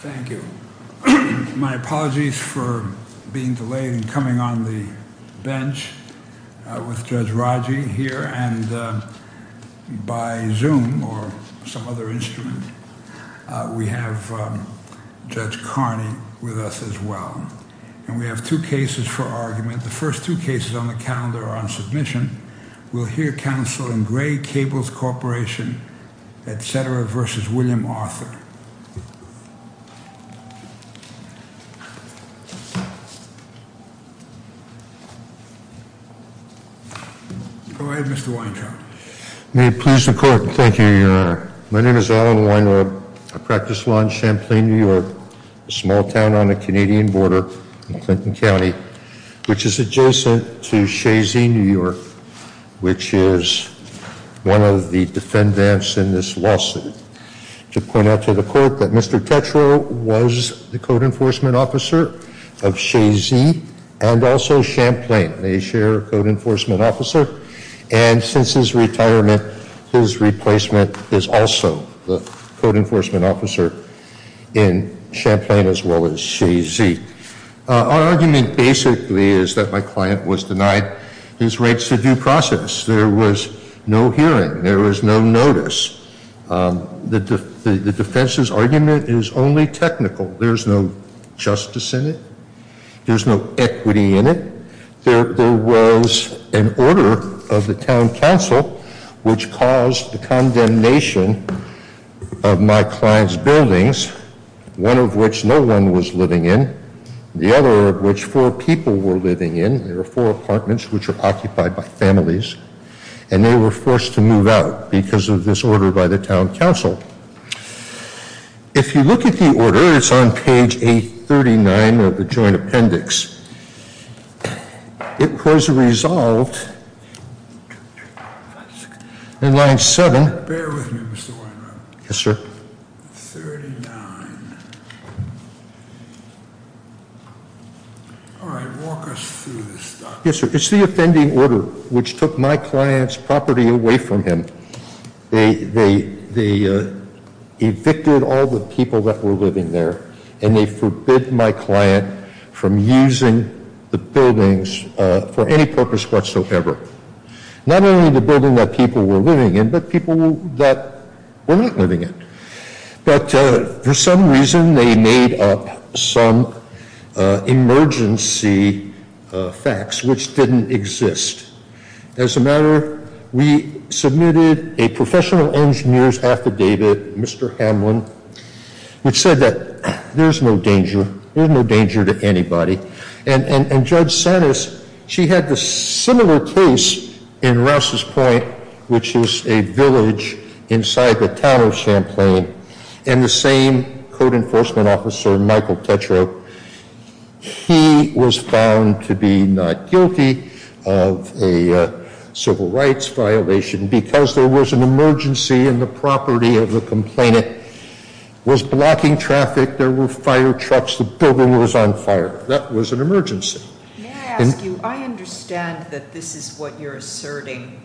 Thank you. My apologies for being delayed and coming on the bench with Judge Raji here and by Zoom or some other instrument we have Judge Carney with us as well. And we have two cases for argument. The first two cases on the calendar are on submission. We'll hear counsel in Gray Cables Corporation etc. v. William Arthur. Go ahead, Mr. Weintraub. May it please the Court. Thank you, Your Honor. My name is Alan Weintraub. I practice law in Champlain, New York, a small town on the Canadian border in Clinton County, which is adjacent to Shazy, New York, which is one of the defendants in this lawsuit. To point out to the Court that Mr. Tetreault was the code enforcement officer of Shazy and also Champlain. They share a code enforcement officer. And since his retirement, his replacement is also the code enforcement officer in Champlain as well as Shazy. Our argument basically is that my client was denied his rights to due process. There was no hearing. There was no notice. The defense's argument is only technical. There's no justice in it. There's no equity in it. There was an order of the town council which caused the condemnation of my client's buildings, one of which no one was living in, the other of which four people were living in. There were four apartments, which were occupied by families, and they were forced to move out because of this order by the town council. If you look at the order, it's on page 839 of the joint appendix. It was resolved in line 7. Bear with me, Mr. Weintraub. Yes, sir. 39. All right. Walk us through this, Dr. Weintraub. Yes, sir. It's the offending order which took my client's property away from him. They evicted all the people that were living there, and they forbid my client from using the buildings for any purpose whatsoever. Not only the building that people were living in, but people that were not living in. But for some reason, they made up some emergency facts, which didn't exist. As a matter, we submitted a professional engineer's affidavit, Mr. Hamlin, which said that there's no danger. There's no danger to anybody. And Judge Sanis, she had a similar case in Rouse's Point, which is a village inside the town of Champlain. And the same code enforcement officer, Michael Tetreault, he was found to be not guilty of a civil rights violation because there was an emergency, and the property of the complainant was blocking traffic. There were fire trucks. The building was on fire. That was an emergency. May I ask you, I understand that this is what you're asserting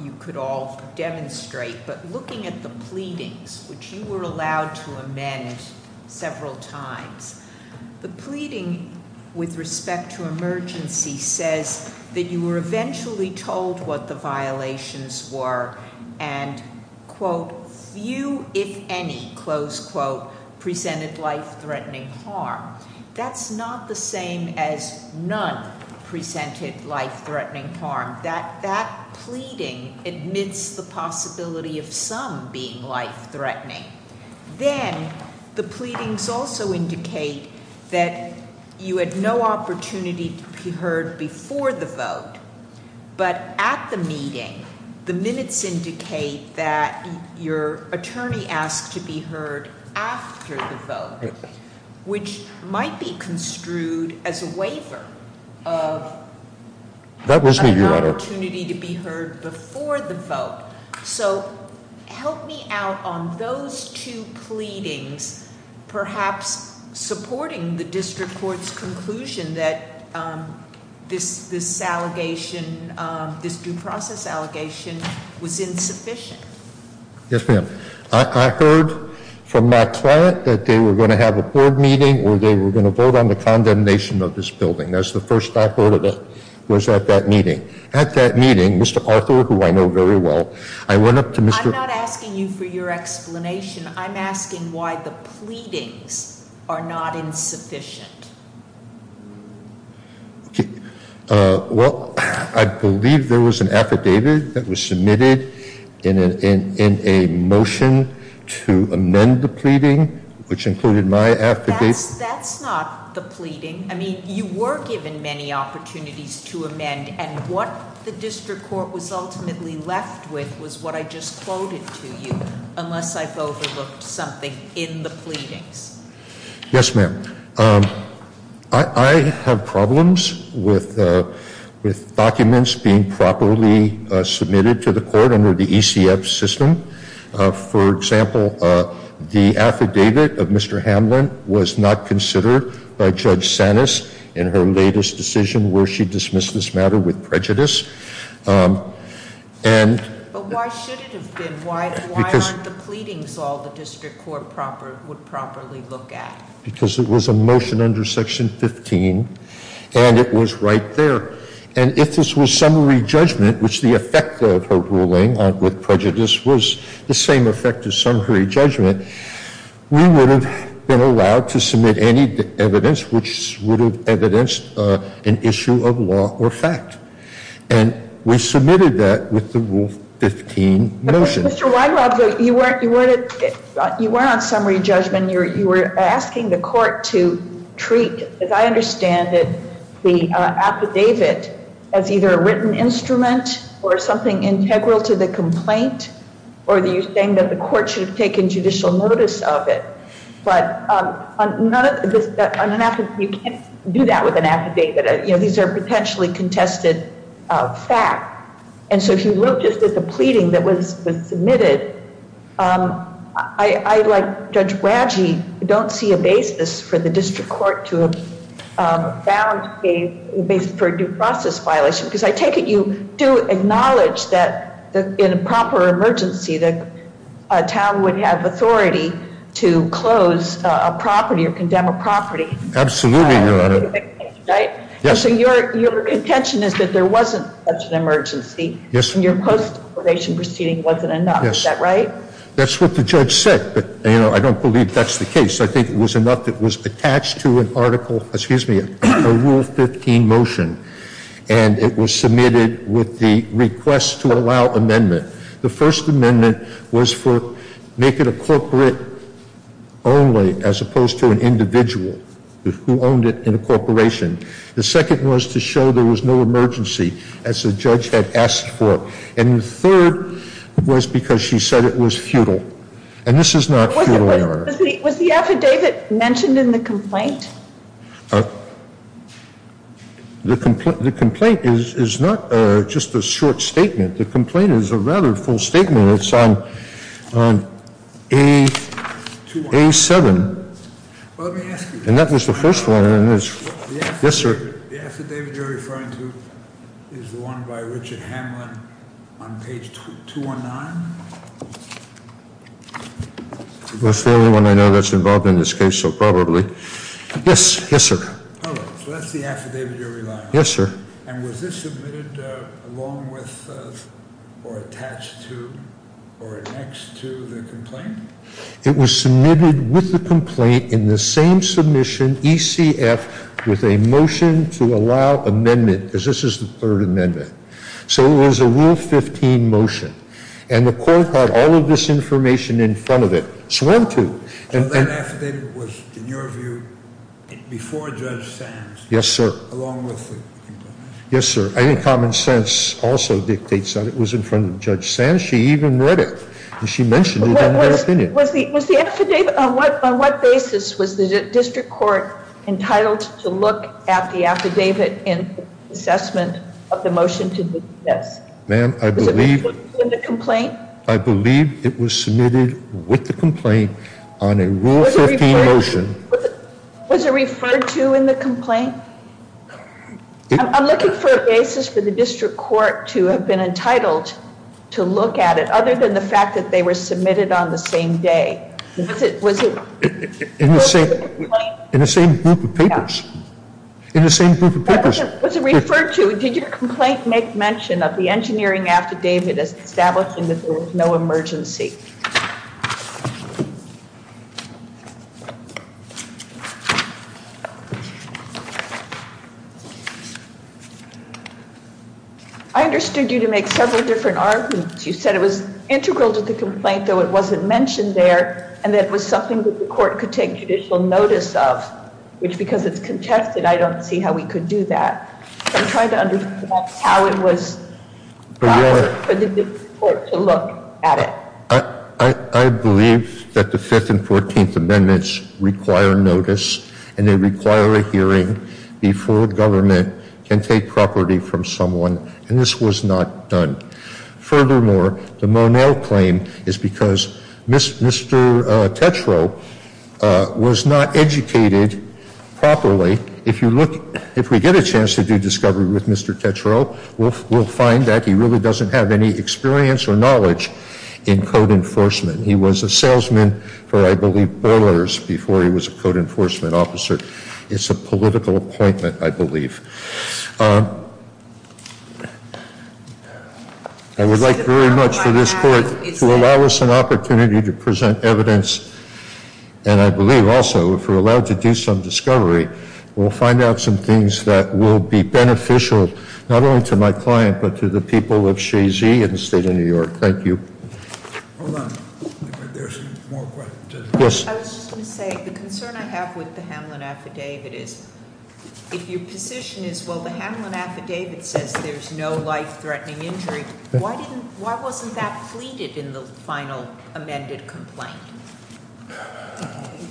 you could all demonstrate, but looking at the pleadings, which you were allowed to amend several times, the pleading with respect to emergency says that you were eventually told what the violations were, and, quote, few, if any, close quote, presented life-threatening harm. That's not the same as none presented life-threatening harm. That pleading admits the possibility of some being life-threatening. Then the pleadings also indicate that you had no opportunity to be heard before the vote, but at the meeting, the minutes indicate that your attorney asked to be heard after the vote, which might be construed as a waiver of an opportunity to be heard before the vote. So help me out on those two pleadings perhaps supporting the district court's conclusion that this allegation, this due process allegation, was insufficient. Yes, ma'am. I heard from my client that they were going to have a board meeting where they were going to vote on the condemnation of this building. That's the first I heard of it was at that meeting. At that meeting, Mr. Arthur, who I know very well, I went up to Mr. I'm not asking you for your explanation. I'm asking why the pleadings are not insufficient. Well, I believe there was an affidavit that was submitted in a motion to amend the pleading, which included my affidavit. That's not the pleading. I mean, you were given many opportunities to amend, and what the district court was ultimately left with was what I just quoted to you, unless I've overlooked something in the pleadings. Yes, ma'am. I have problems with documents being properly submitted to the court under the ECF system. For example, the affidavit of Mr. Hamlin was not considered by Judge Sanis in her latest decision, where she dismissed this matter with prejudice. But why should it have been? Why aren't the pleadings all the district court would properly look at? Because it was a motion under Section 15, and it was right there. And if this was summary judgment, which the effect of her ruling with prejudice was the same effect as summary judgment, we would have been allowed to submit any evidence which would have evidenced an issue of law or fact. And we submitted that with the Rule 15 motion. Mr. Weingarten, you weren't on summary judgment. You were asking the court to treat, as I understand it, the affidavit as either a written instrument or something integral to the complaint, or you're saying that the court should have taken judicial notice of it. But on an affidavit, you can't do that with an affidavit. These are potentially contested facts. And so if you look just at the pleading that was submitted, I, like Judge Bragi, don't see a basis for the district court to have found a basis for a due process violation, because I take it you do acknowledge that in a proper emergency, the town would have authority to close a property or condemn a property. Absolutely, Your Honor. So your contention is that there wasn't such an emergency, and your post-declaration proceeding wasn't enough. Is that right? That's what the judge said, but I don't believe that's the case. I think it was enough that it was attached to an article, excuse me, a Rule 15 motion, and it was submitted with the request to allow amendment. The first amendment was to make it a corporate only, as opposed to an individual who owned it in a corporation. The second was to show there was no emergency, as the judge had asked for. And the third was because she said it was futile. And this is not futile, Your Honor. Was the affidavit mentioned in the complaint? The complaint is not just a short statement. The complaint is a rather full statement. It's on A7, and that was the first one. Yes, sir. The affidavit you're referring to is the one by Richard Hamlin on page 219? That's the only one I know that's involved in this case, so probably. Yes, sir. So that's the affidavit you're relying on. Yes, sir. And was this submitted along with or attached to or annexed to the complaint? It was submitted with the complaint in the same submission, ECF, with a motion to allow amendment, because this is the third amendment. So it was a Rule 15 motion. And the court had all of this information in front of it. So when to? So that affidavit was, in your view, before Judge Sands? Yes, sir. Along with the complaint? Yes, sir. I think common sense also dictates that it was in front of Judge Sands. She even read it, and she mentioned it in her opinion. On what basis was the district court entitled to look at the affidavit in assessment of the motion to do this? Ma'am, I believe it was submitted with the complaint on a Rule 15 motion. Was it referred to in the complaint? I'm looking for a basis for the district court to have been entitled to look at it, other than the fact that they were submitted on the same day. Was it referred to in the complaint? In the same group of papers. In the same group of papers. Was it referred to? Did your complaint make mention of the engineering affidavit as establishing that there was no emergency? I understood you to make several different arguments. You said it was integral to the complaint, though it wasn't mentioned there, and that it was something that the court could take judicial notice of. Which, because it's contested, I don't see how we could do that. I'm trying to understand how it was for the district court to look at it. I believe that the 5th and 14th Amendments require notice, and they require a hearing before government can take property from someone, and this was not done. Furthermore, the Monell claim is because Mr. Tetreault was not educated properly. If you look, if we get a chance to do discovery with Mr. Tetreault, we'll find that he really doesn't have any experience or knowledge in code enforcement. He was a salesman for, I believe, Borlars before he was a code enforcement officer. It's a political appointment, I believe. I would like very much for this court to allow us an opportunity to present evidence, and I believe also, if we're allowed to do some discovery, we'll find out some things that will be beneficial, not only to my client, but to the people of Shazy and the state of New York. Thank you. Hold on. There's more questions. Yes. I was just going to say, the concern I have with the Hamlin Affidavit is, if your position is, well, the Hamlin Affidavit says there's no life-threatening injury, why wasn't that pleaded in the final amended complaint?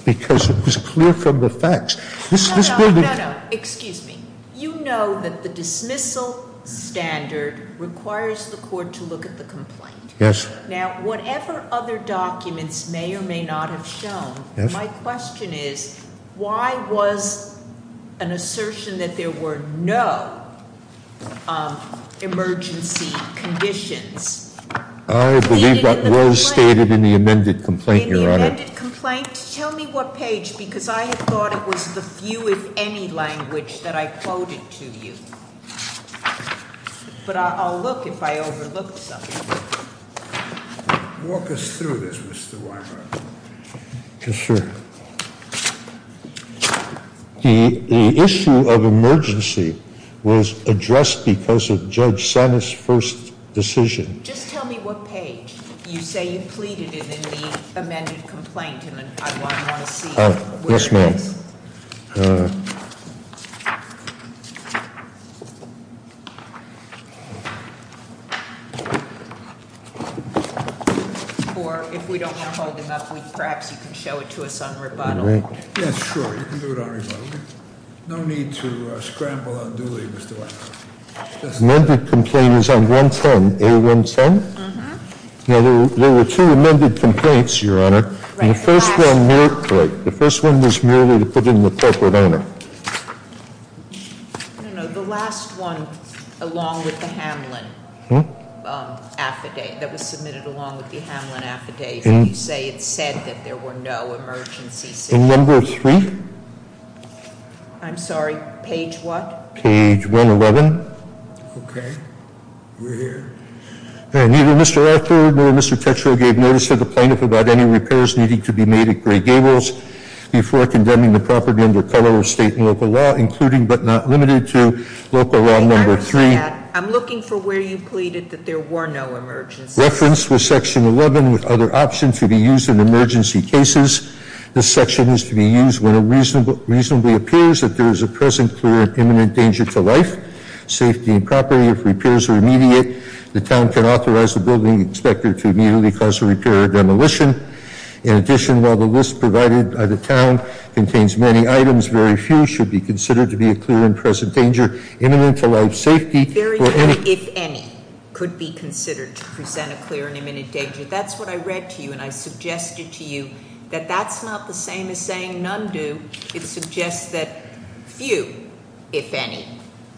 Because it was clear from the facts. No, no, no, no, no. Excuse me. You know that the dismissal standard requires the court to look at the complaint. Yes. Now, whatever other documents may or may not have shown, my question is, why was an assertion that there were no emergency conditions pleaded in the complaint? I believe that was stated in the amended complaint, Your Honor. In the amended complaint? Tell me what page, because I had thought it was the few, if any, language that I quoted to you. But I'll look if I overlooked something. Walk us through this, Mr. Weinberg. Yes, sir. The issue of emergency was addressed because of Judge Senna's first decision. Just tell me what page. You say you pleaded it in the amended complaint, and I want to see where it is. All right. Or if we don't want to hold him up, perhaps you can show it to us on rebuttal. Yes, sure. You can do it on rebuttal. No need to scramble on duly, Mr. Weinberg. The amended complaint is on 110, A110? Mm-hm. Now, there were two amended complaints, Your Honor. The first one was merely to put in the corporate honor. No, no. The last one, along with the Hamlin affidavit that was submitted along with the Hamlin affidavit, you say it said that there were no emergency situations. In number three? I'm sorry. Page what? Page 111. Okay. We're here. Neither Mr. Arthur nor Mr. Tetreault gave notice to the plaintiff about any repairs needing to be made at Gray Gables before condemning the property under color of state and local law, including but not limited to local law number three. I'm looking for where you pleaded that there were no emergencies. Reference was section 11 with other options to be used in emergency cases. This section is to be used when it reasonably appears that there is a present, clear, and imminent danger to life, safety, and property. If repairs are immediate, the town can authorize the building inspector to immediately cause a repair or demolition. In addition, while the list provided by the town contains many items, very few should be considered to be a clear and present danger imminent to life, safety, or any- Very few, if any, could be considered to present a clear and imminent danger. That's what I read to you, and I suggested to you that that's not the same as saying none do. It suggests that few, if any,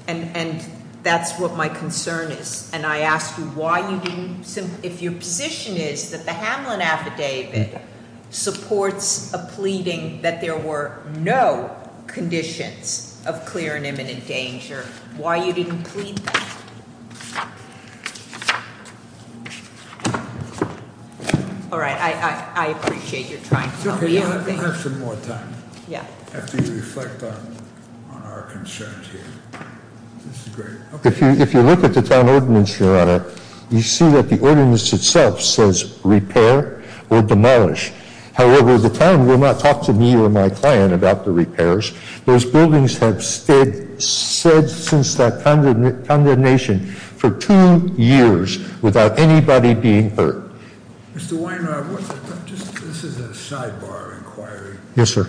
and that's what my concern is. And I ask you why you didn't, if your position is that the Hamlin Affidavit supports a pleading that there were no conditions of clear and imminent danger, why you didn't plead that? All right, I appreciate your trying to help me out. It's okay, we'll have some more time after you reflect on our concerns here. This is great. If you look at the town ordinance, your honor, you see that the ordinance itself says repair or demolish. However, the town will not talk to me or my client about the repairs. Those buildings have said since that condemnation for two years without anybody being hurt. Mr. Weinhardt, this is a sidebar inquiry. Yes, sir.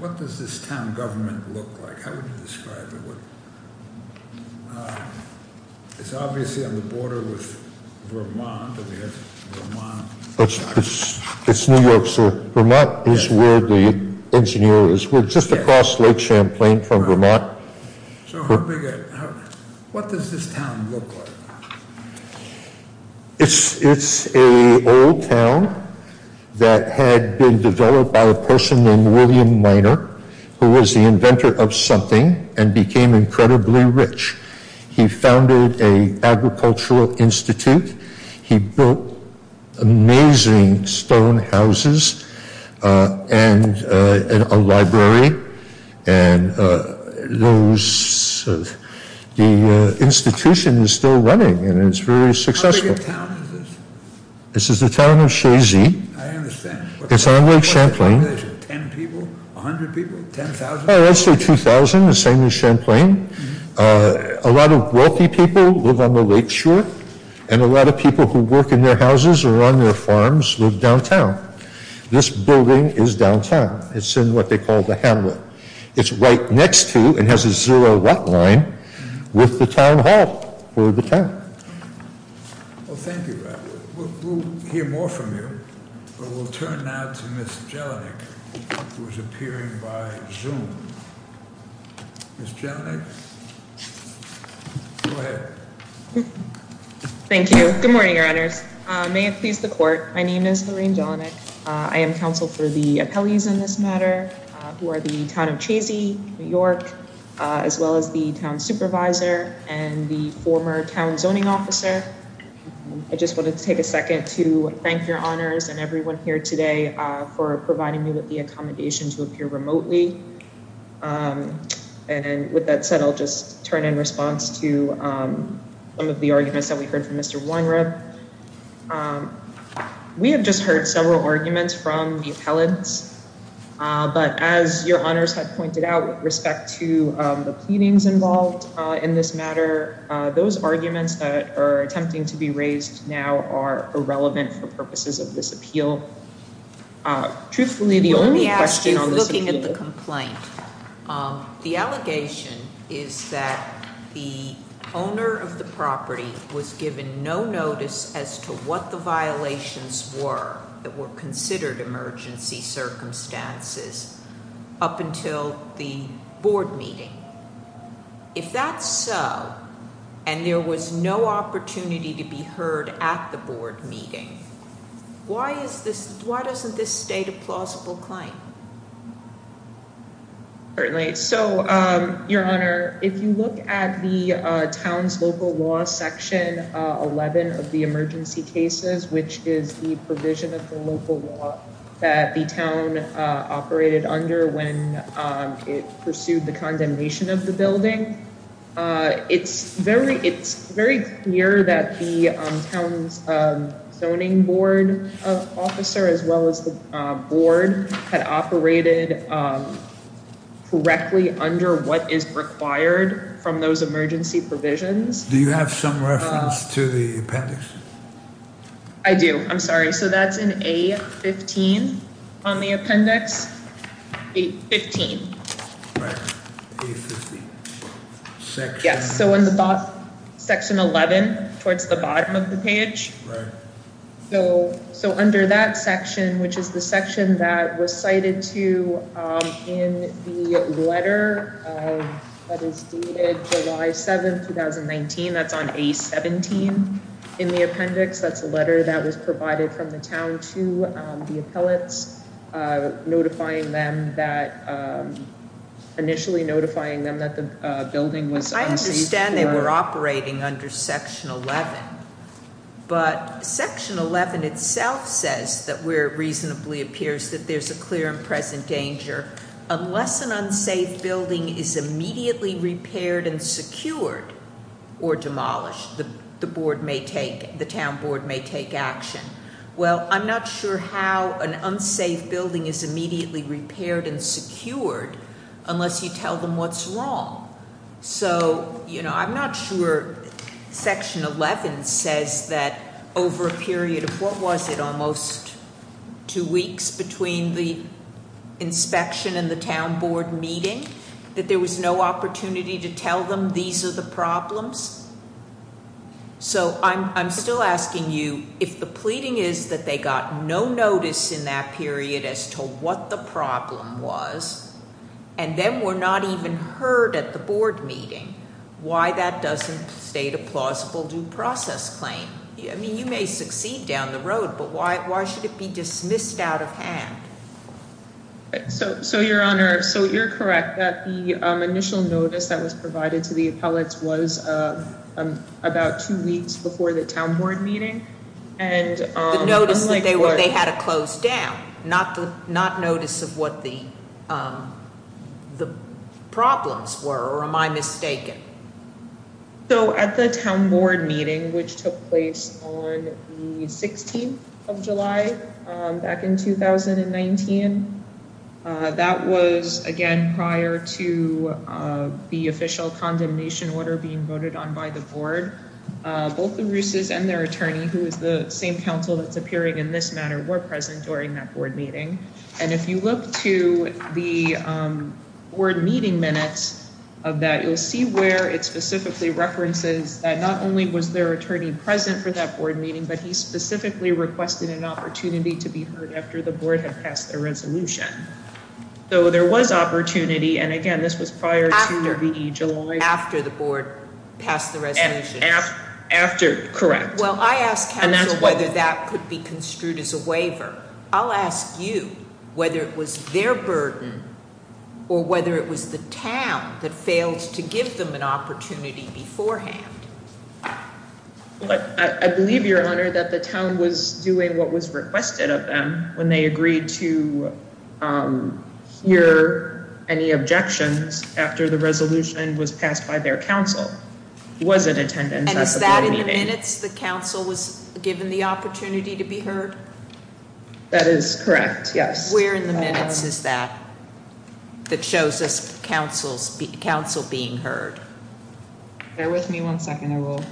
What does this town government look like? How would you describe it? It's obviously on the border with Vermont. It's New York, sir. Vermont is where the engineer is. We're just across Lake Champlain from Vermont. What does this town look like? It's an old town that had been developed by a person named William Miner, who was the inventor of something and became incredibly rich. He founded an agricultural institute. He built amazing stone houses and a library. The institution is still running, and it's very successful. How big a town is this? This is the town of Shazy. I understand. It's on Lake Champlain. Ten people? A hundred people? Ten thousand? I'd say 2,000, the same as Champlain. A lot of wealthy people live on the lake shore, and a lot of people who work in their houses or on their farms live downtown. This building is downtown. It's in what they call the hamlet. It's right next to and has a zero-watt line with the town hall for the town. Thank you, Brad. We'll hear more from you, but we'll turn now to Ms. Jelinek, who is appearing by Zoom. Ms. Jelinek, go ahead. Thank you. Good morning, Your Honors. May it please the Court, my name is Lorraine Jelinek. I am counsel for the appellees in this matter who are the town of Shazy, New York, as well as the town supervisor and the former town zoning officer. I just wanted to take a second to thank Your Honors and everyone here today for providing me with the accommodation to appear remotely. And with that said, I'll just turn in response to some of the arguments that we heard from Mr. Weinreb. We have just heard several arguments from the appellants, but as Your Honors had pointed out with respect to the pleadings involved in this matter, those arguments that are attempting to be raised now are irrelevant for purposes of this appeal. Truthfully, the only question on this appeal The allegation is that the owner of the property was given no notice as to what the violations were that were considered emergency circumstances up until the board meeting. If that's so, and there was no opportunity to be heard at the board meeting, why doesn't this state a plausible claim? Certainly. So, Your Honor, if you look at the town's local law section 11 of the emergency cases, which is the provision of the local law that the town operated under when it pursued the condemnation of the building, it's very clear that the town's zoning board officer, as well as the board, had operated correctly under what is required from those emergency provisions. Do you have some reference to the appendix? I do. I'm sorry. So that's in A15 on the appendix. Yes. So in the section 11 towards the bottom of the page. So under that section, which is the section that was cited to in the letter that is dated July 7, 2019, that's on A17 in the appendix. That's a letter that was provided from the town to the appellants, initially notifying them that the building was unsafe. I understand they were operating under section 11, but section 11 itself says that where it reasonably appears that there's a clear and present danger, unless an unsafe building is immediately repaired and secured or demolished, the town board may take action. Well, I'm not sure how an unsafe building is immediately repaired and secured unless you tell them what's wrong. So, you know, I'm not sure section 11 says that over a period of, what was it, almost two weeks between the inspection and the town board meeting, that there was no opportunity to tell them these are the problems. So I'm still asking you if the pleading is that they got no notice in that period as to what the problem was, and then were not even heard at the board meeting, why that doesn't state a plausible due process claim. I mean, you may succeed down the road, but why should it be dismissed out of hand? So your Honor, so you're correct that the initial notice that was provided to the appellate was about two weeks before the town board meeting. And notice that they had to close down, not notice of what the problems were, or am I mistaken? So at the town board meeting, which took place on the 16th of July, back in 2019, that was, again, prior to the official condemnation order being voted on by the board. Both the Russes and their attorney, who is the same council that's appearing in this matter, were present during that board meeting. And if you look to the board meeting minutes of that, you'll see where it specifically references that not only was their attorney present for that board meeting, but he specifically requested an opportunity to be heard after the board had passed their resolution. So there was opportunity. And again, this was prior to July after the board passed the resolution. Correct. Well, I asked whether that could be construed as a waiver. I'll ask you whether it was their burden or whether it was the town that failed to give them an opportunity beforehand. But I believe, Your Honor, that the town was doing what was requested of them when they agreed to hear any objections after the resolution was passed by their council. And is that in the minutes the council was given the opportunity to be heard? That is correct. Yes. Where in the minutes is that that shows us council being heard? Bear with me one second. I will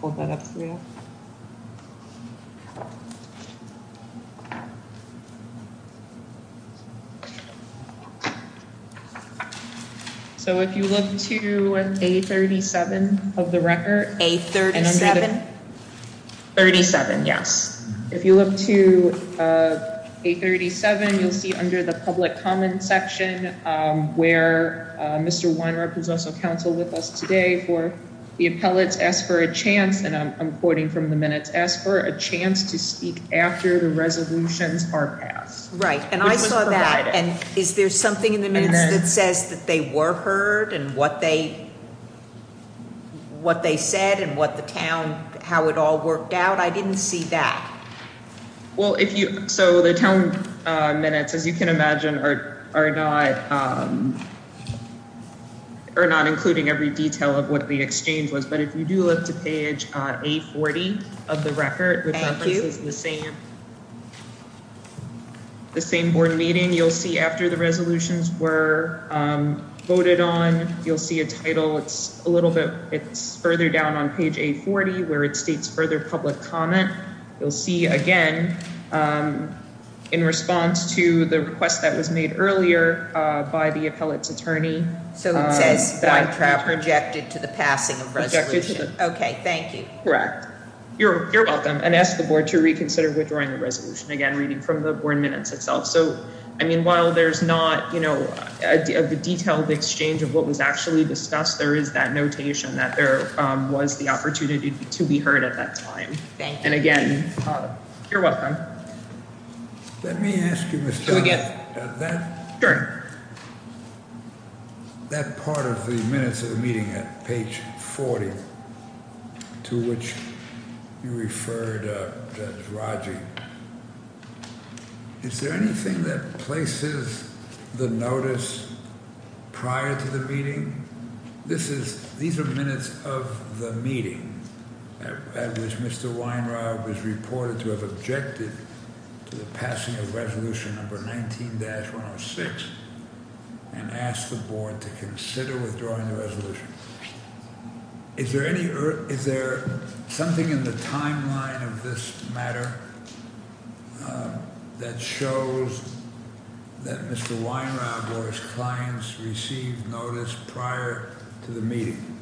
hold that up for you. So if you look to a 37 of the record, a 37, 37. Yes. If you look to a 37, you'll see under the public comment section where Mr. Council with us today for the appellate. Ask for a chance. And I'm quoting from the minutes. Ask for a chance to speak after the resolutions are passed. Right. And I saw that. And is there something in the minutes that says that they were heard and what they. What they said and what the town, how it all worked out. I didn't see that. Well, if you so the town minutes, as you can imagine, are are not. Or not, including every detail of what the exchange was. But if you do look to page a 40 of the record, which is the same. The same board meeting you'll see after the resolutions were voted on. You'll see a title. It's a little bit further down on page a 40 where it states further public comment. You'll see again in response to the request that was made earlier by the appellate's attorney. So it says that I projected to the passing. Okay. Thank you. Correct. You're welcome. And ask the board to reconsider withdrawing the resolution again, reading from the board minutes itself. So, I mean, while there's not, you know, the detailed exchange of what was actually discussed. There is that notation that there was the opportunity to be heard at that time. And again. You're welcome. Let me ask you again. That part of the minutes of the meeting at page 40. To which you referred Raji. Is there anything that places the notice prior to the meeting? This is these are minutes of the meeting at which Mr. Weinrod was reported to have objected to the passing of resolution number 19-106. And ask the board to consider withdrawing the resolution. Is there any is there something in the timeline of this matter? That shows that Mr. Weinrod or his clients received notice prior to the meeting.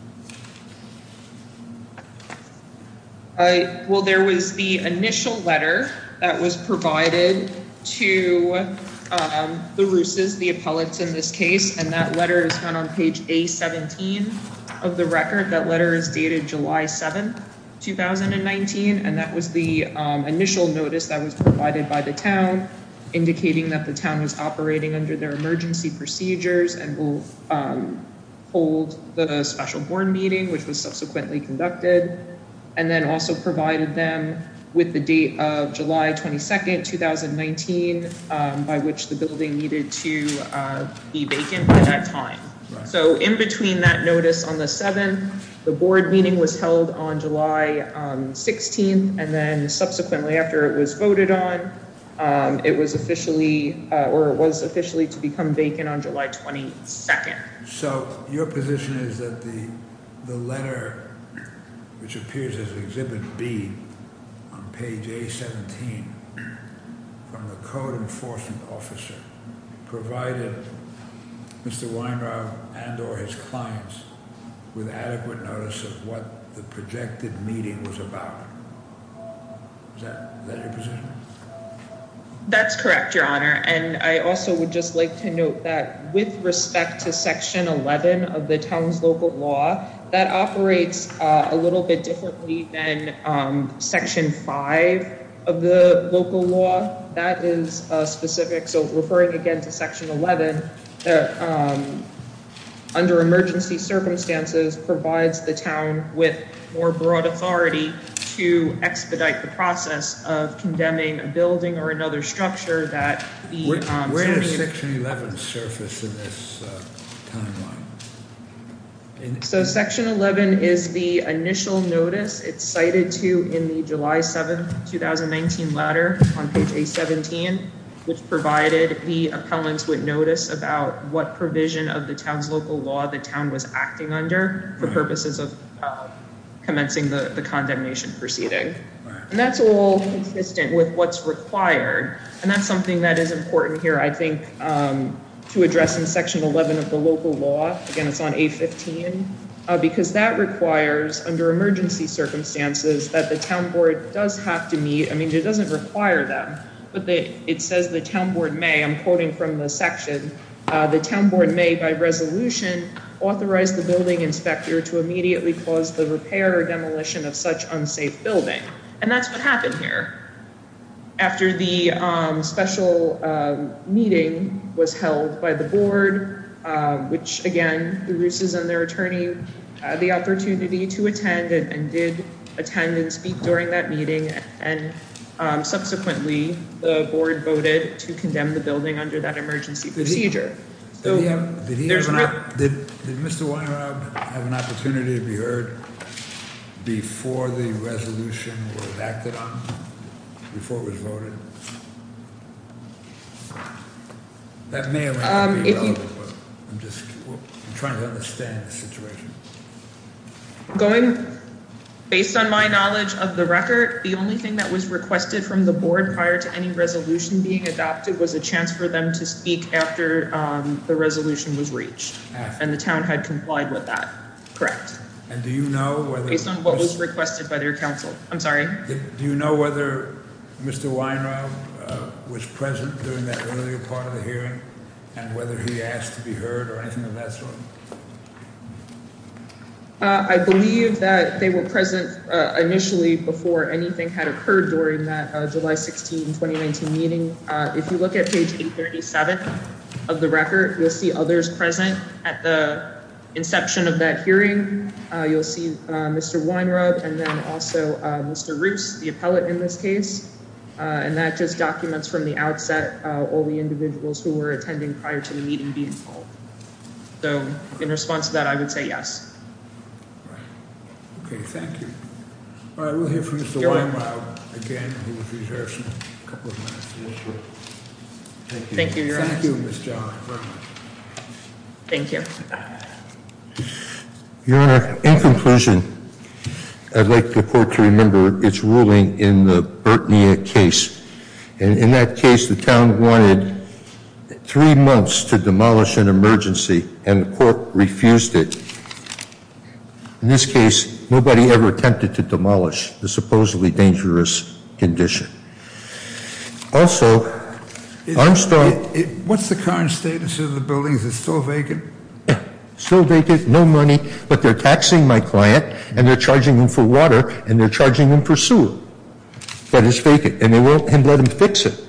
All right. Well, there was the initial letter that was provided to the ruses. The appellate's in this case, and that letter is found on page a 17 of the record. That letter is dated July 7th, 2019. And that was the initial notice that was provided by the town. Indicating that the town was operating under their emergency procedures and will hold the special board meeting, which was subsequently conducted. And then also provided them with the date of July 22nd, 2019, by which the building needed to be vacant at time. So, in between that notice on the 7th, the board meeting was held on July 16th. And then subsequently, after it was voted on, it was officially or was officially to become vacant on July 22nd. So, your position is that the letter, which appears as exhibit B on page a 17 from the code enforcement officer. Provided Mr. Weinrod and or his clients with adequate notice of what the projected meeting was about. That's correct, your honor. And I also would just like to note that with respect to section 11 of the town's local law. That operates a little bit differently than section 5 of the local law. That is specific. So, referring again to section 11. Under emergency circumstances provides the town with more broad authority to expedite the process of condemning a building or another structure that. Where does section 11 surface in this timeline? So, section 11 is the initial notice. It's cited to in the July 7th, 2019 letter on page a 17. Which provided the appellants with notice about what provision of the town's local law the town was acting under. For purposes of commencing the condemnation proceeding. And that's all consistent with what's required. And that's something that is important here. I think to address in section 11 of the local law again, it's on a 15 because that requires under emergency circumstances. That the town board does have to meet. I mean, it doesn't require them, but it says the town board may. I'm quoting from the section. The town board may by resolution authorized the building inspector to immediately cause the repair or demolition of such unsafe building. And that's what happened here. After the special meeting was held by the board. Which again, the ruses on their attorney, the opportunity to attend and did attend and speak during that meeting. And subsequently, the board voted to condemn the building under that emergency procedure. Did Mr. Weiner have an opportunity to be heard? Before the resolution was acted on before it was voted. That may be just trying to understand the situation. Based on my knowledge of the record, the only thing that was requested from the board prior to any resolution being adopted was a chance for them to speak after the resolution was reached. And the town had complied with that. Correct. And do you know what was requested by their counsel? I'm sorry. Do you know whether Mr. Weiner was present during that earlier part of the hearing? And whether he asked to be heard or anything of that sort. I believe that they were present initially before anything had occurred during that July 16 2019 meeting. If you look at page 37 of the record, you'll see others present at the inception of that hearing. You'll see Mr. Weiner up and then also Mr. Roots, the appellate in this case. And that just documents from the outset. All the individuals who were attending prior to the meeting. So in response to that, I would say yes. Thank you. Thank you. Thank you. In conclusion, I'd like the court to remember its ruling in the case. In that case, the town wanted three months to demolish an emergency and the court refused it. In this case, nobody ever attempted to demolish the supposedly dangerous condition. Also, I'm sorry. What's the current status of the building? Is it still vacant? Still vacant. No money. But they're taxing my client and they're charging them for water and they're charging them for sewer. But it's vacant and they won't let them fix it,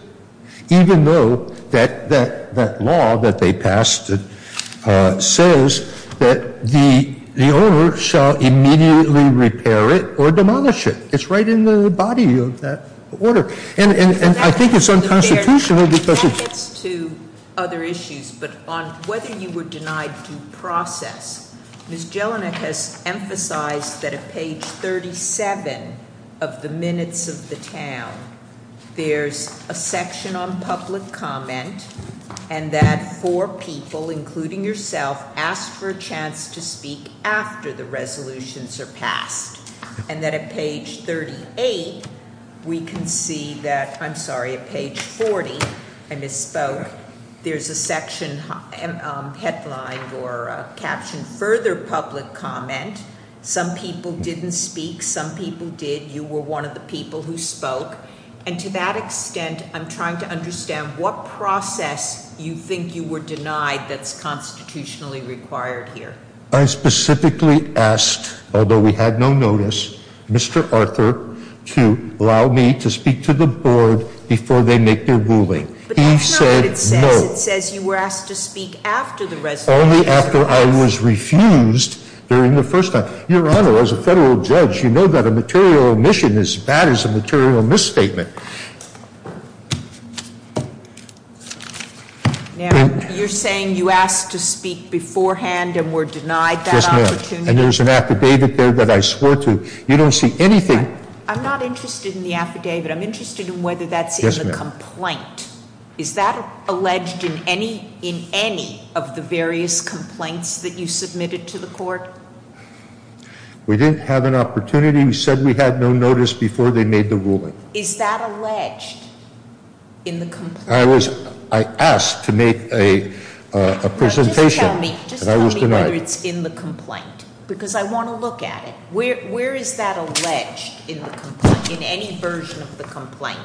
even though that law that they passed says that the owner shall immediately repair it or demolish it. It's right in the body of that order. And I think it's unconstitutional. That gets to other issues. But on whether you were denied due process, Ms. Jelinek has emphasized that at page 37 of the minutes of the town, there's a section on public comment and that four people, including yourself, asked for a chance to speak after the resolution surpassed. And that at page 38, we can see that, I'm sorry, at page 40, I misspoke. There's a section headlined or captioned further public comment. Some people didn't speak. Some people did. You were one of the people who spoke. And to that extent, I'm trying to understand what process you think you were denied that's allowed me to speak to the board before they make their ruling. He said no. Only after I was refused during the first time. Your Honor, as a Federal judge, you know that a material omission is as bad as a material misstatement. Now, you're saying you asked to speak beforehand and were denied that opportunity? And there was an affidavit there that I swore to. You don't see anything. I'm not interested in the affidavit. I'm interested in whether that's in the complaint. Is that alleged in any of the various complaints that you submitted to the court? We didn't have an opportunity. We said we had no notice before they made the ruling. Is that alleged in the complaint? I asked to make a presentation and I was denied. Just tell me whether it's in the complaint. Because I want to look at it. Where is that alleged? In any version of the complaint?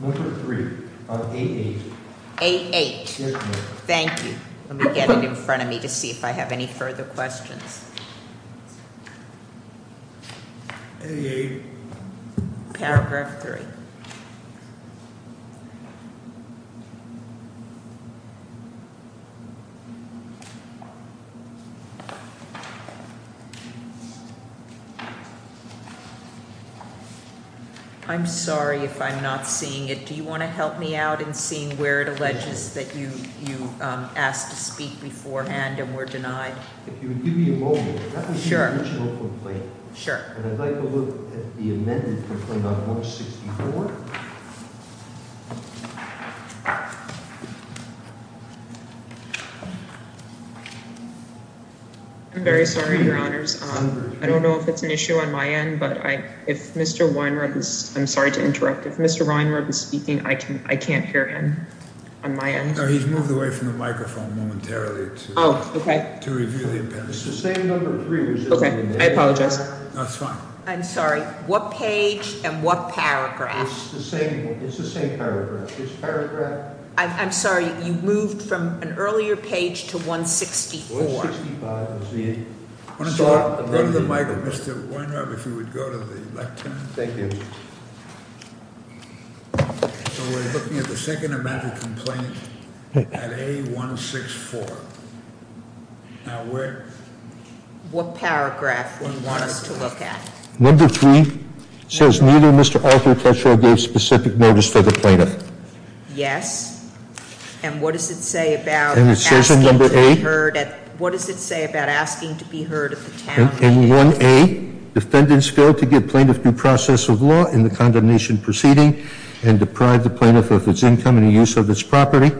Number three. Thank you. Let me get it in front of me to see if I have any further questions. Paragraph three. I'm sorry if I'm not seeing it. Do you want to help me out in seeing where it alleges that you asked to speak beforehand and were denied? If you would give me a moment. That would be the original complaint. And I'd like to look at the amended complaint on 164. I'm very sorry, Your Honors. I don't know if it's an issue on my end, but I'm sorry to interrupt. If Mr. Weinreb is speaking, I can't hear him. He's moved away from the microphone momentarily. I'm sorry. What page and what paragraph? It's the same paragraph. I'm sorry. You moved from an earlier page to 164. Thank you. The second amendment complaint. 164. What paragraph? Number three. Yes. And what does it say about? What does it say about asking to be heard? Defendants failed to give plaintiff due process of law in the condemnation proceeding and deprived the plaintiff of its income and use of this property.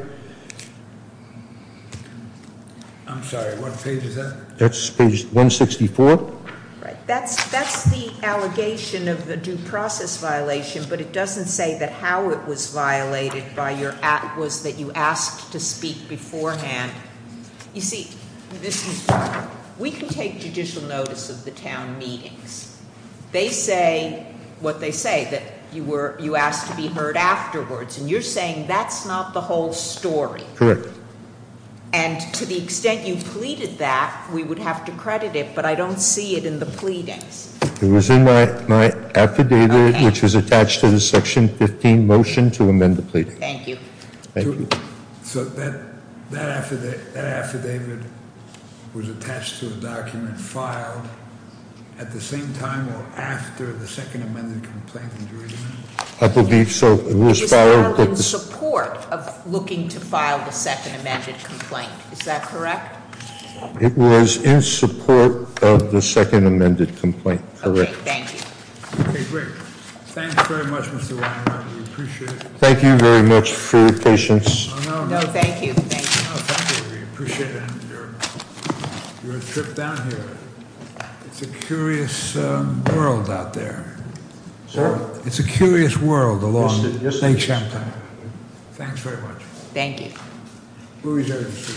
I'm sorry. What page is that? Page 164. That's the allegation of the due process violation. But it doesn't say that how it was violated by your act was that you asked to speak beforehand. You see, we can take judicial notice of the town meetings. They say what they say that you were you asked to be heard afterwards. And you're saying that's not the whole story. Correct. And to the extent you pleaded that we would have to credit it, but I don't see it in the pleadings. It was in my affidavit, which was attached to the section 15 motion to amend the plea. Thank you. Thank you. So that that affidavit that affidavit. Was attached to a document filed at the same time or after the second amended complaint. I believe so. Support of looking to file the second amended complaint. Is that correct? It was in support of the second amended complaint. Correct. Thank you. Thank you very much for your patience. Thank you. We appreciate it. It's a curious world out there. It's a curious world along. Thanks very much. Thank you.